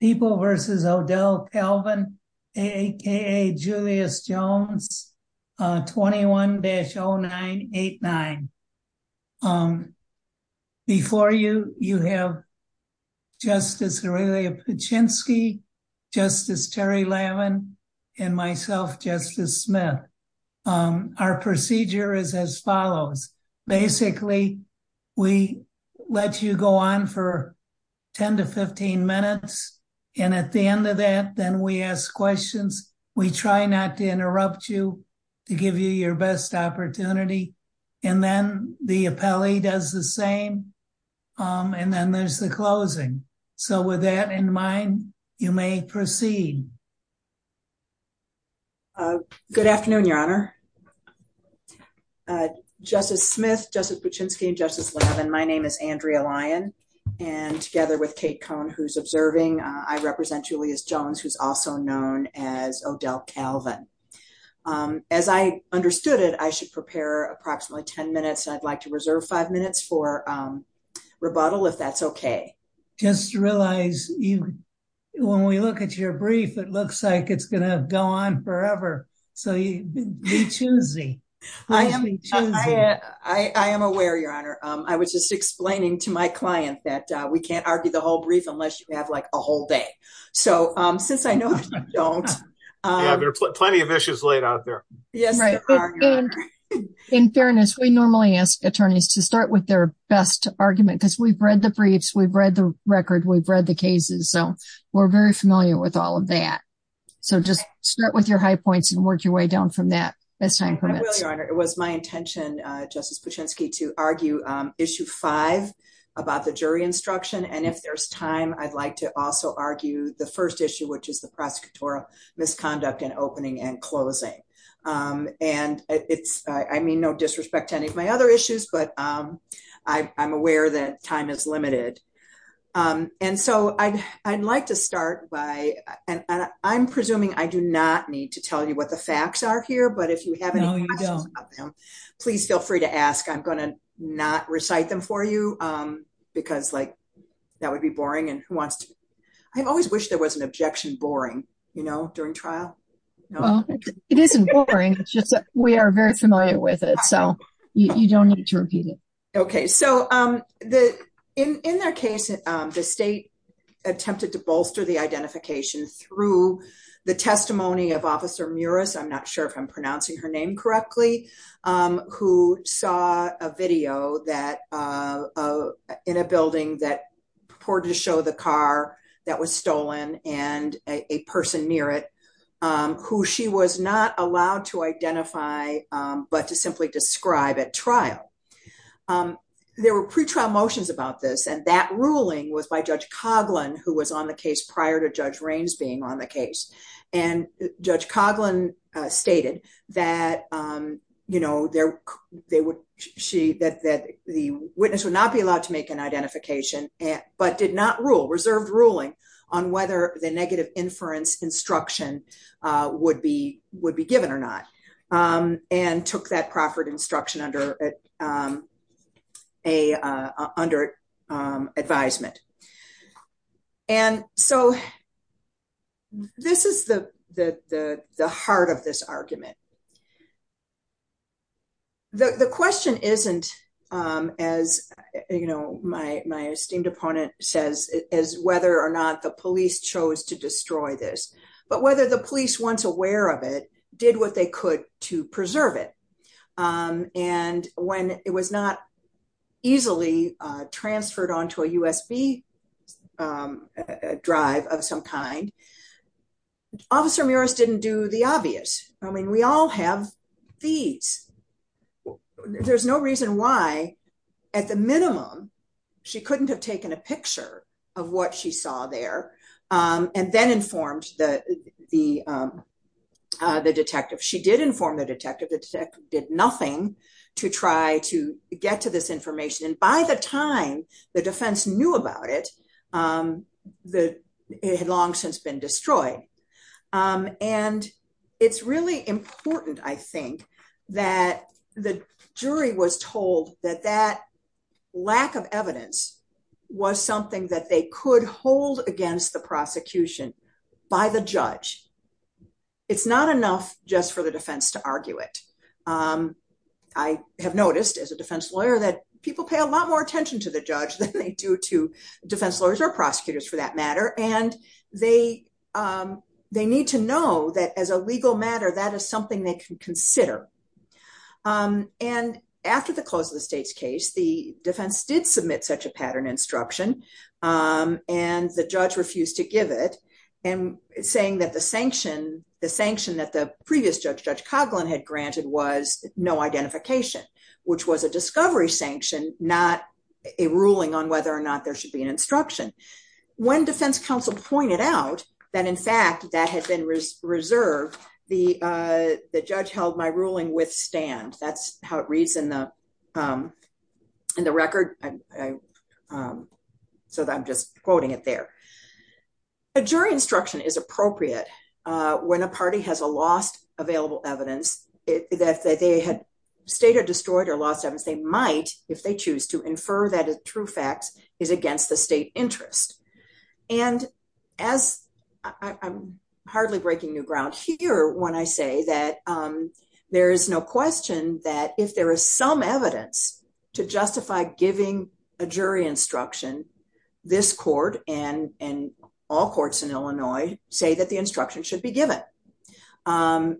People versus Odell Calvin, a.k.a. Julius Jones, 21-0989. Before you, you have Justice Aurelia Paczynski, Justice Terry Lavin, and myself, Justice Smith. Our procedure is as follows. Basically, we let you go on for 10 to 15 minutes. And at the end of that, then we ask questions. We try not to interrupt you to give you your best opportunity. And then the appellee does the same. And then there's the closing. So with that in mind, you may proceed. Good afternoon, Your Honor. Justice Smith, Justice Paczynski, and Justice Lavin, my name is Andrea Lyon. And together with Kate Cohn, who's observing, I represent Julius Jones, who's also known as Odell Calvin. As I understood it, I should prepare approximately 10 minutes. I'd like to reserve five minutes for rebuttal if that's OK. Just realize when we look at your brief, it looks like it's going to go on forever. So be choosy. I am aware, Your Honor. I was just explaining to my client that we can't argue the whole brief unless you have like a whole day. So since I know you don't. There are plenty of issues laid out there. In fairness, we normally ask attorneys to start with their best argument because we've read the briefs. We've read the record. We've read the cases. So we're very familiar with all of that. So just start with your high points and work your way down from that. It was my intention, Justice Paczynski, to argue issue five about the jury instruction. And if there's time, I'd like to also argue the first issue, which is the prosecutorial misconduct and opening and closing. And it's I mean, no disrespect to any of my other issues, but I'm aware that time is limited. And so I'd like to start by and I'm presuming I do not need to tell you what the facts are here. But if you have any questions about them, please feel free to ask. I'm going to not recite them for you because like that would be boring and who wants to. I always wish there was an objection. Boring, you know, during trial. It isn't boring. It's just that we are very familiar with it. So you don't need to repeat it. OK, so the in their case, the state attempted to bolster the identification through the testimony of Officer Muris. I'm not sure if I'm pronouncing her name correctly, who saw a video that in a building that purported to show the car that was stolen and a person near it who she was not allowed to identify, but to simply describe at trial. There were pre-trial motions about this, and that ruling was by Judge Coughlin, who was on the case prior to Judge Raines being on the case. And Judge Coughlin stated that, you know, that the witness would not be allowed to make an identification, but did not rule, reserved ruling, on whether the negative inference instruction would be given or not. And took that proffered instruction under advisement. And so this is the heart of this argument. The question isn't, as you know, my esteemed opponent says, is whether or not the police chose to destroy this, but whether the police, once aware of it, did what they could to preserve it. And when it was not easily transferred onto a USB drive of some kind, Officer Muris didn't do the obvious. I mean, we all have these. There's no reason why, at the minimum, she couldn't have taken a picture of what she saw there and then informed the detective. She did inform the detective. The detective did nothing to try to get to this information. And by the time the defense knew about it, it had long since been destroyed. And it's really important, I think, that the jury was told that that lack of evidence was something that they could hold against the prosecution by the judge. It's not enough just for the defense to argue it. I have noticed, as a defense lawyer, that people pay a lot more attention to the judge than they do to defense lawyers or prosecutors, for that matter. And they need to know that as a legal matter, that is something they can consider. And after the close of the state's case, the defense did submit such a pattern instruction. And the judge refused to give it and saying that the sanction, the sanction that the previous judge, Judge Coughlin, had granted was no identification, which was a discovery sanction, not a ruling on whether or not there should be an instruction. When defense counsel pointed out that, in fact, that had been reserved, the judge held my ruling with stand. That's how it reads in the record. So I'm just quoting it there. A jury instruction is appropriate when a party has a lost available evidence that they had stated destroyed or lost evidence. They might, if they choose to, infer that a true fact is against the state interest. And as I'm hardly breaking new ground here when I say that there is no question that if there is some evidence to justify giving a jury instruction, this court and all courts in Illinois say that the instruction should be given. And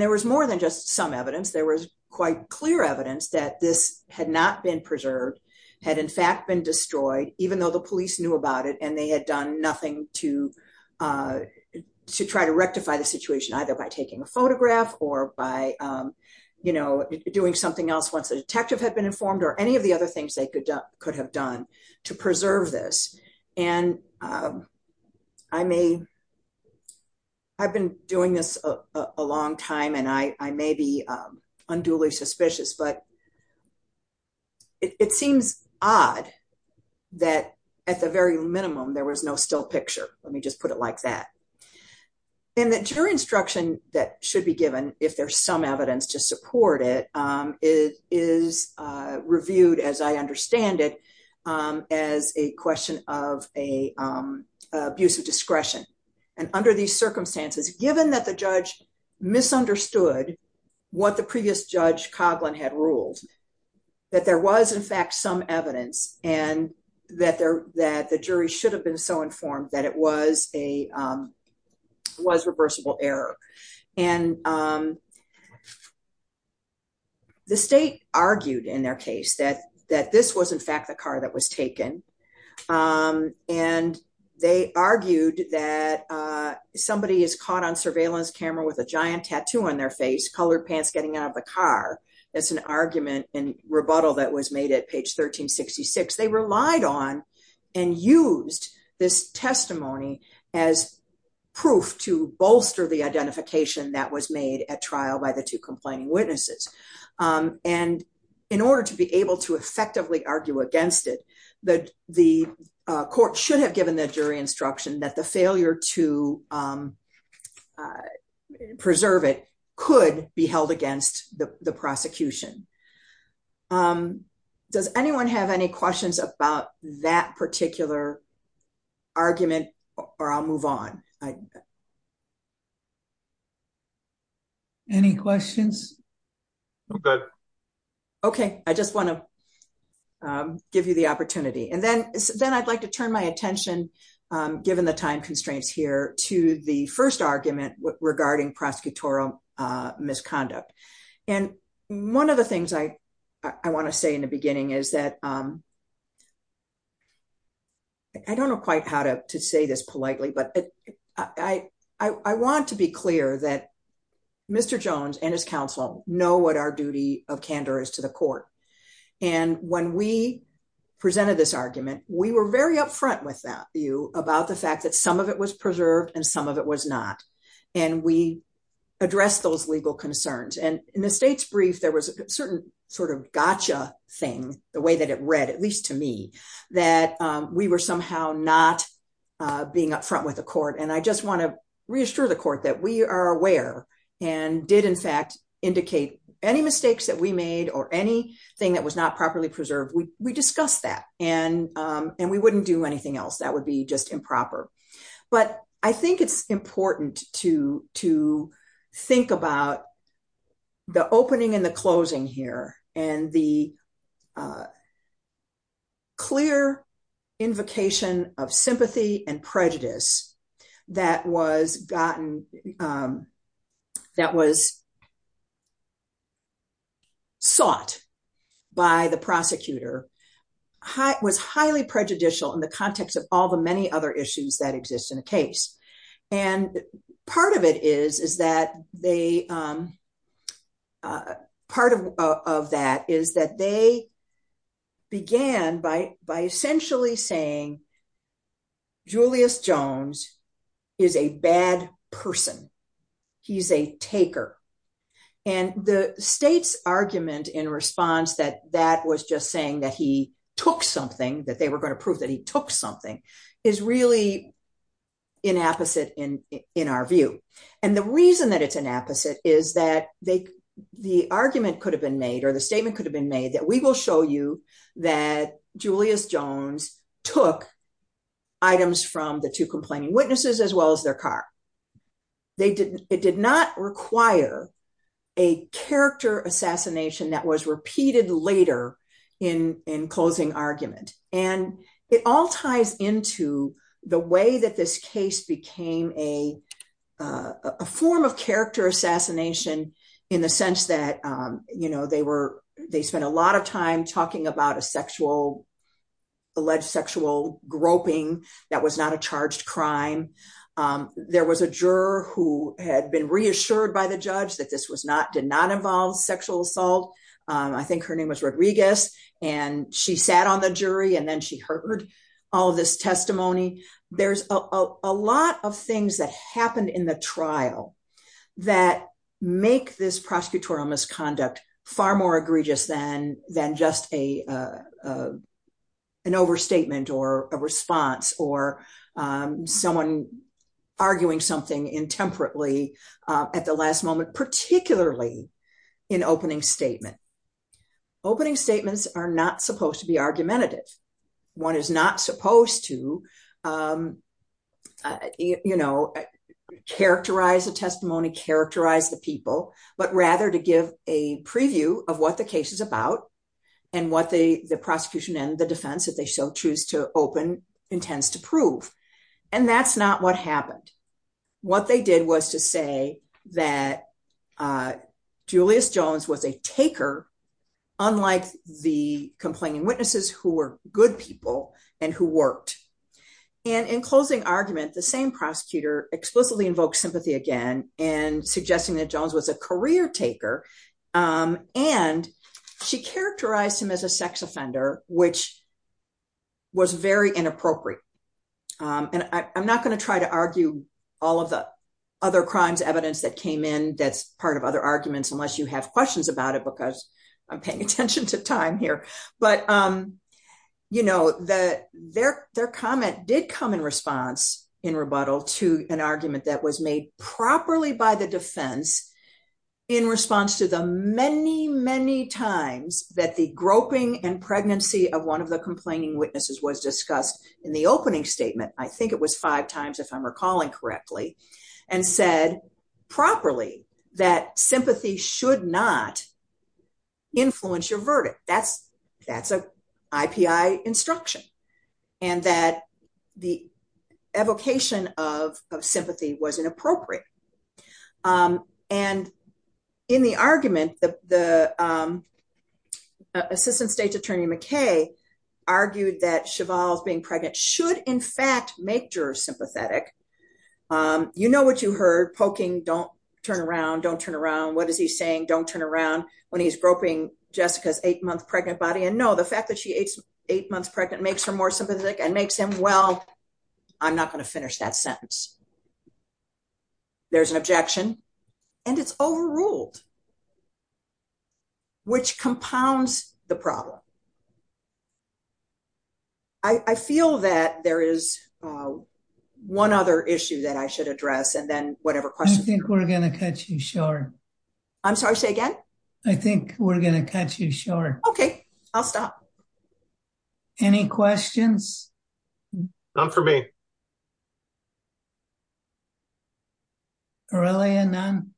there was more than just some evidence. There was quite clear evidence that this had not been preserved, had in fact been destroyed, even though the police knew about it and they had done nothing to to try to rectify the situation, either by taking a photograph or by, you know, doing something else once the detective had been informed or any of the other things they could have done to preserve this. And I may, I've been doing this a long time and I may be unduly suspicious, but it seems odd that at the very minimum, there was no still picture. Let me just put it like that. And the jury instruction that should be given, if there's some evidence to support it, is reviewed, as I understand it, as a question of a abuse of discretion. And under these circumstances, given that the judge misunderstood what the previous judge Coughlin had ruled, that there was in fact some evidence and that the jury should have been so informed that it was a, was reversible error. And the state argued in their case that this was in fact the car that was taken. And they argued that somebody is caught on surveillance camera with a giant tattoo on their face, colored pants getting out of the car. That's an argument and rebuttal that was made at page 1366. They relied on and used this testimony as proof to bolster the identification that was made at trial by the two complaining witnesses. And in order to be able to effectively argue against it, the court should have given the jury instruction that the failure to preserve it could be held against the prosecution. Does anyone have any questions about that particular argument? Or I'll move on. Any questions? Okay, I just want to give you the opportunity and then then I'd like to turn my attention, given the time constraints here to the first argument regarding prosecutorial misconduct. And one of the things I want to say in the beginning is that I don't know quite how to say this politely, but I want to be clear that Mr. Jones and his counsel know what our duty of candor is to the court. And when we presented this argument, we were very upfront with you about the fact that some of it was preserved and some of it was not. And we addressed those legal concerns. And in the state's brief, there was a certain sort of gotcha thing, the way that it read, at least to me, that we were somehow not being upfront with the court. And I just want to reassure the court that we are aware and did, in fact, indicate any mistakes that we made or anything that was not properly preserved, we discussed that and we wouldn't do anything else that would be just improper. But I think it's important to think about the opening and the closing here and the clear invocation of sympathy and prejudice that was gotten, that was sought by the prosecutor, was highly prejudicial in the context of all the many other issues that exist in the case. And part of that is that they began by essentially saying, Julius Jones is a bad person. He's a taker. And the state's argument in response that that was just saying that he took something, that they were going to prove that he took something, is really inapposite in our view. And the reason that it's inapposite is that the argument could have been made or the statement could have been made that we will show you that Julius Jones took items from the two complaining witnesses as well as their car. It did not require a character assassination that was repeated later in closing argument. And it all ties into the way that this case became a form of character assassination in the sense that they spent a lot of time talking about a sexual, alleged sexual groping that was not a charged crime. There was a juror who had been reassured by the judge that this was not, did not involve sexual assault. I think her name was Rodriguez and she sat on the jury and then she heard all this testimony. There's a lot of things that happened in the trial that make this prosecutorial misconduct far more egregious than just an overstatement or a response or someone arguing something intemperately at the last moment, particularly in opening statement. Opening statements are not supposed to be argumentative. One is not supposed to characterize the testimony, characterize the people, but rather to give a preview of what the case is about and what the prosecution and the defense that they shall choose to open intends to prove. And that's not what happened. What they did was to say that Julius Jones was a taker, unlike the complaining witnesses who were good people and who worked. And in closing argument, the same prosecutor explicitly invoked sympathy again and suggesting that Jones was a career taker. And she characterized him as a sex offender, which was very inappropriate. And I'm not going to try to argue all of the other crimes evidence that came in. That's part of other arguments, unless you have questions about it, because I'm paying attention to time here. But their comment did come in response in rebuttal to an argument that was made properly by the defense in response to the many, many times that the groping and pregnancy of one of the complaining witnesses was discussed in the opening statement. I think it was five times, if I'm recalling correctly, and said properly that sympathy should not influence your verdict. That's an IPI instruction and that the evocation of sympathy was inappropriate. And in the argument, the Assistant State's Attorney McKay argued that Cheval's being pregnant should, in fact, make jurors sympathetic. You know what you heard, poking, don't turn around, don't turn around. What is he saying? Don't turn around when he's groping Jessica's eight month pregnant body. And no, the fact that she is eight months pregnant makes her more sympathetic and makes him well, I'm not going to finish that sentence. There's an objection and it's overruled, which compounds the problem. I feel that there is one other issue that I should address and then whatever question. I think we're going to cut you short. I'm sorry, say again. I think we're going to cut you short. Okay, I'll stop. Any questions? None for me. Aurelia, none?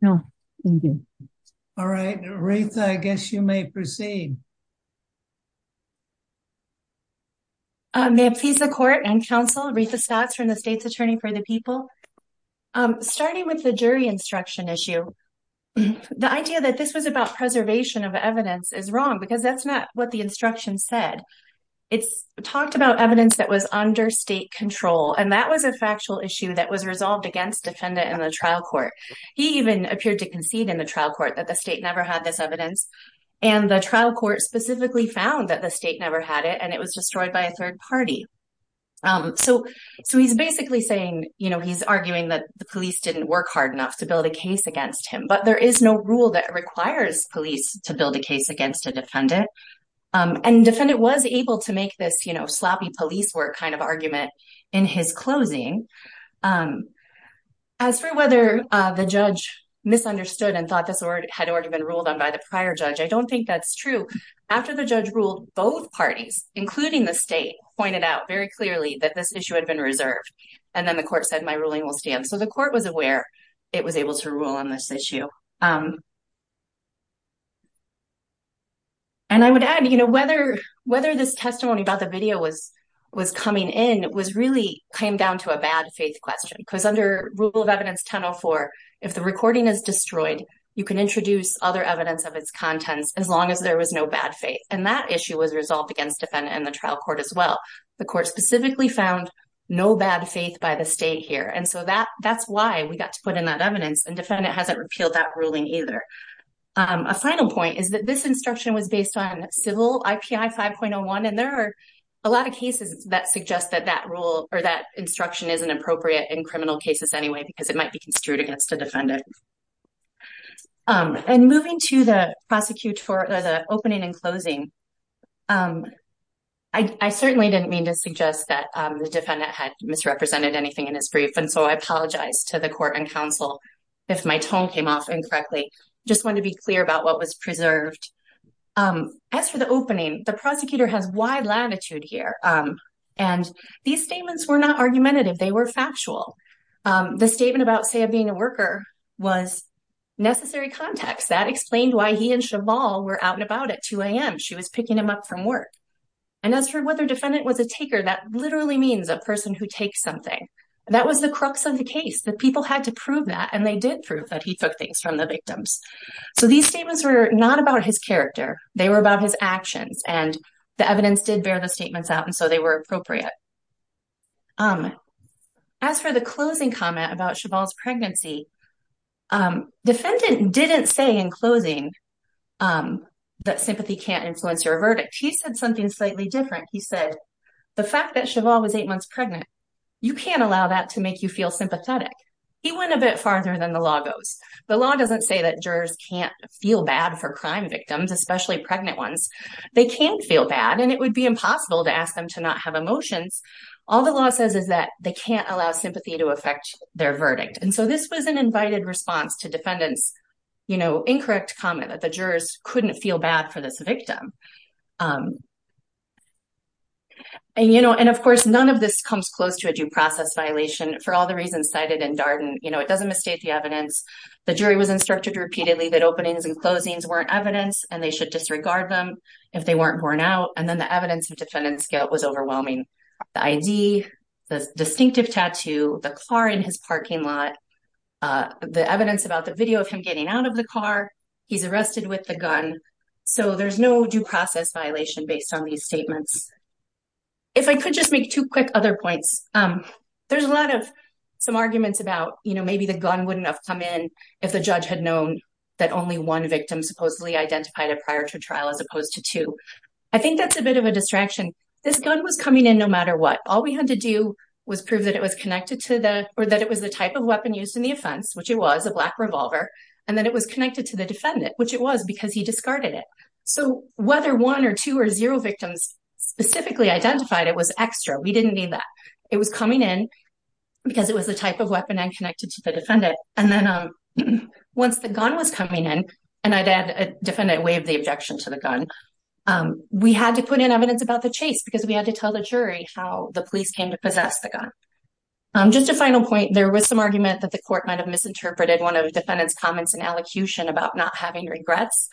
No, thank you. All right, Aretha, I guess you may proceed. May it please the court and counsel, Aretha Stotts from the State's Attorney for the People. Starting with the jury instruction issue. The idea that this was about preservation of evidence is wrong because that's not what the instruction said. It's talked about evidence that was under state control and that was a factual issue that was resolved against defendant in the trial court. He even appeared to concede in the trial court that the state never had this evidence. And the trial court specifically found that the state never had it and it was destroyed by a third party. So he's basically saying, you know, he's arguing that the police didn't work hard enough to build a case against him. But there is no rule that requires police to build a case against a defendant. And defendant was able to make this, you know, sloppy police work kind of argument in his closing. As for whether the judge misunderstood and thought this had already been ruled on by the prior judge, I don't think that's true. After the judge ruled, both parties, including the state, pointed out very clearly that this issue had been reserved. And then the court said, my ruling will stand. So the court was aware it was able to rule on this issue. And I would add, you know, whether this testimony about the video was coming in was really came down to a bad faith question. Because under Rule of Evidence 1004, if the recording is destroyed, you can introduce other evidence of its contents as long as there was no bad faith. And that issue was resolved against defendant and the trial court as well. The court specifically found no bad faith by the state here. And so that's why we got to put in that evidence. And defendant hasn't repealed that ruling either. A final point is that this instruction was based on civil IPI 5.01. And there are a lot of cases that suggest that that rule or that instruction isn't appropriate in criminal cases anyway, because it might be construed against the defendant. And moving to the prosecutor, the opening and closing, I certainly didn't mean to suggest that the defendant had misrepresented anything in his brief. And so I apologize to the court and counsel if my tone came off incorrectly. I just want to be clear about what was preserved. As for the opening, the prosecutor has wide latitude here. And these statements were not argumentative. They were factual. The statement about Saia being a worker was necessary context. That explained why he and Chabal were out and about at 2 a.m. She was picking him up from work. And as for whether defendant was a taker, that literally means a person who takes something. That was the crux of the case, that people had to prove that. And they did prove that he took things from the victims. So these statements were not about his character. They were about his actions. And the evidence did bear the statements out, and so they were appropriate. As for the closing comment about Chabal's pregnancy, defendant didn't say in closing that sympathy can't influence your verdict. He said something slightly different. He said the fact that Chabal was eight months pregnant, you can't allow that to make you feel sympathetic. He went a bit farther than the law goes. The law doesn't say that jurors can't feel bad for crime victims, especially pregnant ones. They can feel bad, and it would be impossible to ask them to not have emotions. All the law says is that they can't allow sympathy to affect their verdict. And so this was an invited response to defendant's, you know, incorrect comment that the jurors couldn't feel bad for this victim. And, you know, and, of course, none of this comes close to a due process violation. For all the reasons cited in Darden, you know, it doesn't mistake the evidence. The jury was instructed repeatedly that openings and closings weren't evidence, and they should disregard them if they weren't borne out. And then the evidence of defendant's guilt was overwhelming. The ID, the distinctive tattoo, the car in his parking lot, the evidence about the video of him getting out of the car, he's arrested with the gun. So there's no due process violation based on these statements. If I could just make two quick other points. There's a lot of some arguments about, you know, maybe the gun wouldn't have come in if the judge had known that only one victim supposedly identified it prior to trial as opposed to two. I think that's a bit of a distraction. This gun was coming in no matter what. All we had to do was prove that it was connected to the or that it was the type of weapon used in the offense, which it was, a black revolver. And then it was connected to the defendant, which it was because he discarded it. So whether one or two or zero victims specifically identified it was extra. We didn't need that. It was coming in because it was the type of weapon and connected to the defendant. And then once the gun was coming in, and I'd add a defendant waived the objection to the gun, we had to put in evidence about the chase because we had to tell the jury how the police came to possess the gun. Just a final point. There was some argument that the court might have misinterpreted one of the defendant's comments and allocution about not having regrets.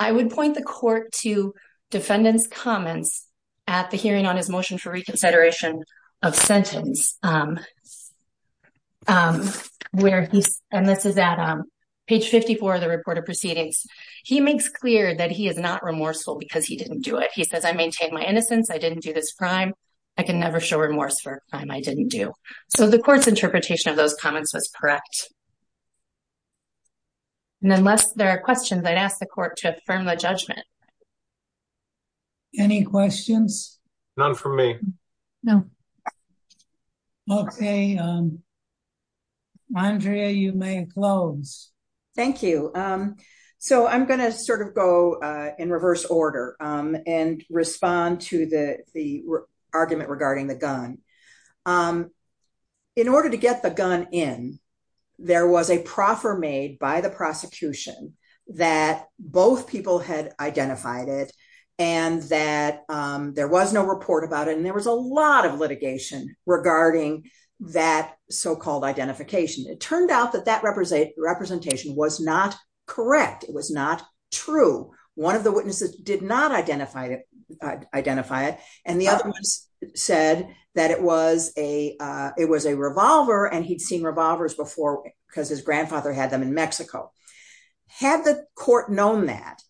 I would point the court to defendant's comments at the hearing on his motion for reconsideration of sentence. And this is at page 54 of the report of proceedings. He makes clear that he is not remorseful because he didn't do it. He says, I maintain my innocence. I didn't do this crime. I can never show remorse for a crime I didn't do. So the court's interpretation of those comments was correct. And unless there are questions, I'd ask the court to affirm the judgment. Any questions? None from me. No. Okay. Andrea, you may close. Thank you. So I'm going to sort of go in reverse order and respond to the argument regarding the gun. In order to get the gun in, there was a proffer made by the prosecution that both people had identified it and that there was no report about it. And there was a lot of litigation regarding that so-called identification. It turned out that that representation was not correct. It was not true. One of the witnesses did not identify it. And the other one said that it was a revolver and he'd seen revolvers before because his grandfather had them in Mexico. Had the court known that,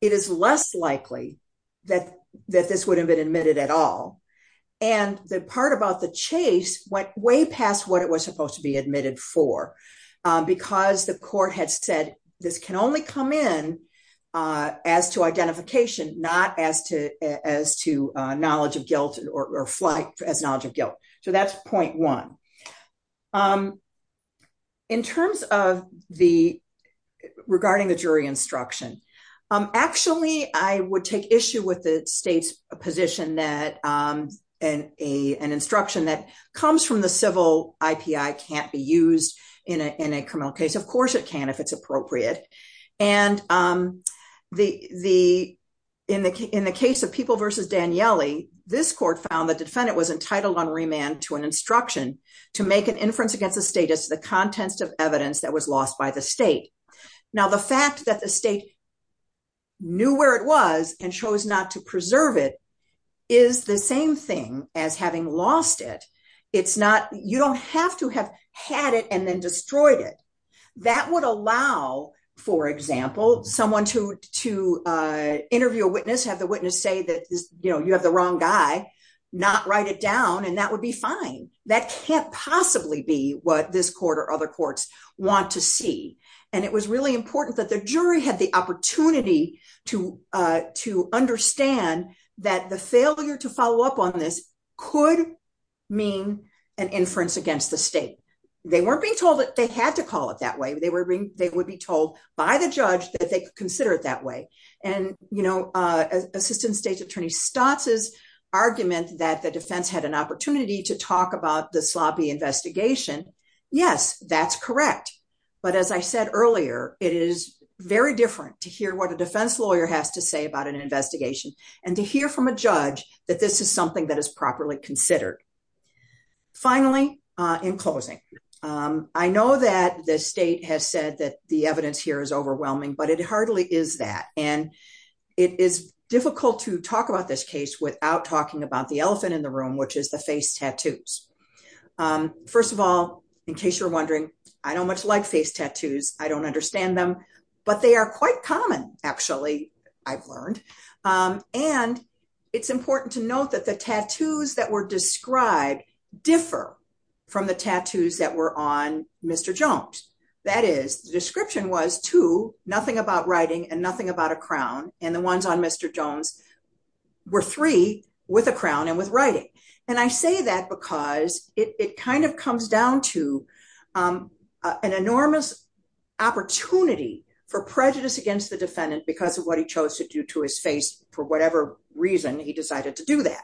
it is less likely that this would have been admitted at all. And the part about the chase went way past what it was supposed to be admitted for. Because the court had said this can only come in as to identification, not as to knowledge of guilt or flight as knowledge of guilt. So that's point one. In terms of the regarding the jury instruction. Actually, I would take issue with the state's position that an instruction that comes from the civil IPI can't be used in a criminal case. Of course it can if it's appropriate. And in the case of People v. Daniele, this court found the defendant was entitled on remand to an instruction to make an inference against the status of the contents of evidence that was lost by the state. Now, the fact that the state knew where it was and chose not to preserve it is the same thing as having lost it. You don't have to have had it and then destroyed it. That would allow, for example, someone to interview a witness, have the witness say that you have the wrong guy, not write it down and that would be fine. That can't possibly be what this court or other courts want to see. And it was really important that the jury had the opportunity to understand that the failure to follow up on this could mean an inference against the state. They weren't being told that they had to call it that way. They would be told by the judge that they could consider it that way. And, you know, Assistant State's Attorney Stotz's argument that the defense had an opportunity to talk about the sloppy investigation. Yes, that's correct. But as I said earlier, it is very different to hear what a defense lawyer has to say about an investigation and to hear from a judge that this is something that is properly considered. Finally, in closing, I know that the state has said that the evidence here is overwhelming, but it hardly is that. And it is difficult to talk about this case without talking about the elephant in the room, which is the face tattoos. First of all, in case you're wondering, I don't much like face tattoos. I don't understand them, but they are quite common, actually, I've learned. And it's important to note that the tattoos that were described differ from the tattoos that were on Mr. Jones. That is, the description was two, nothing about writing and nothing about a crown. And the ones on Mr. Jones were three with a crown and with writing. And I say that because it kind of comes down to an enormous opportunity for prejudice against the defendant because of what he chose to do to his face. For whatever reason, he decided to do that.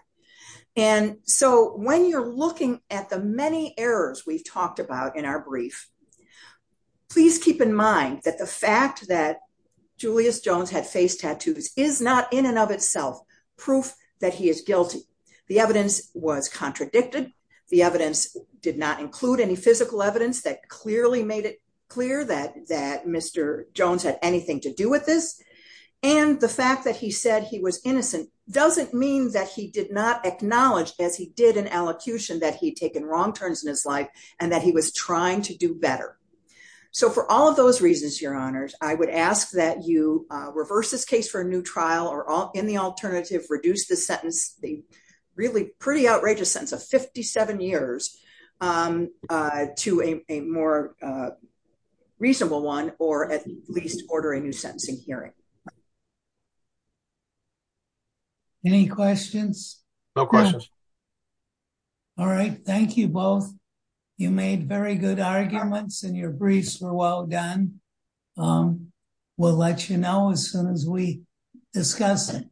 And so when you're looking at the many errors we've talked about in our brief, please keep in mind that the fact that Julius Jones had face tattoos is not in and of itself proof that he is guilty. The evidence was contradicted. The evidence did not include any physical evidence that clearly made it clear that Mr. Jones had anything to do with this. And the fact that he said he was innocent doesn't mean that he did not acknowledge, as he did in allocution, that he'd taken wrong turns in his life and that he was trying to do better. So for all of those reasons, Your Honors, I would ask that you reverse this case for a new trial or, in the alternative, reduce the sentence, the really pretty outrageous sentence of 57 years, to a more reasonable one, or at least order a new sentencing hearing. Any questions? No questions. All right, thank you both. You made very good arguments and your briefs were well done. We'll let you know as soon as we discuss it.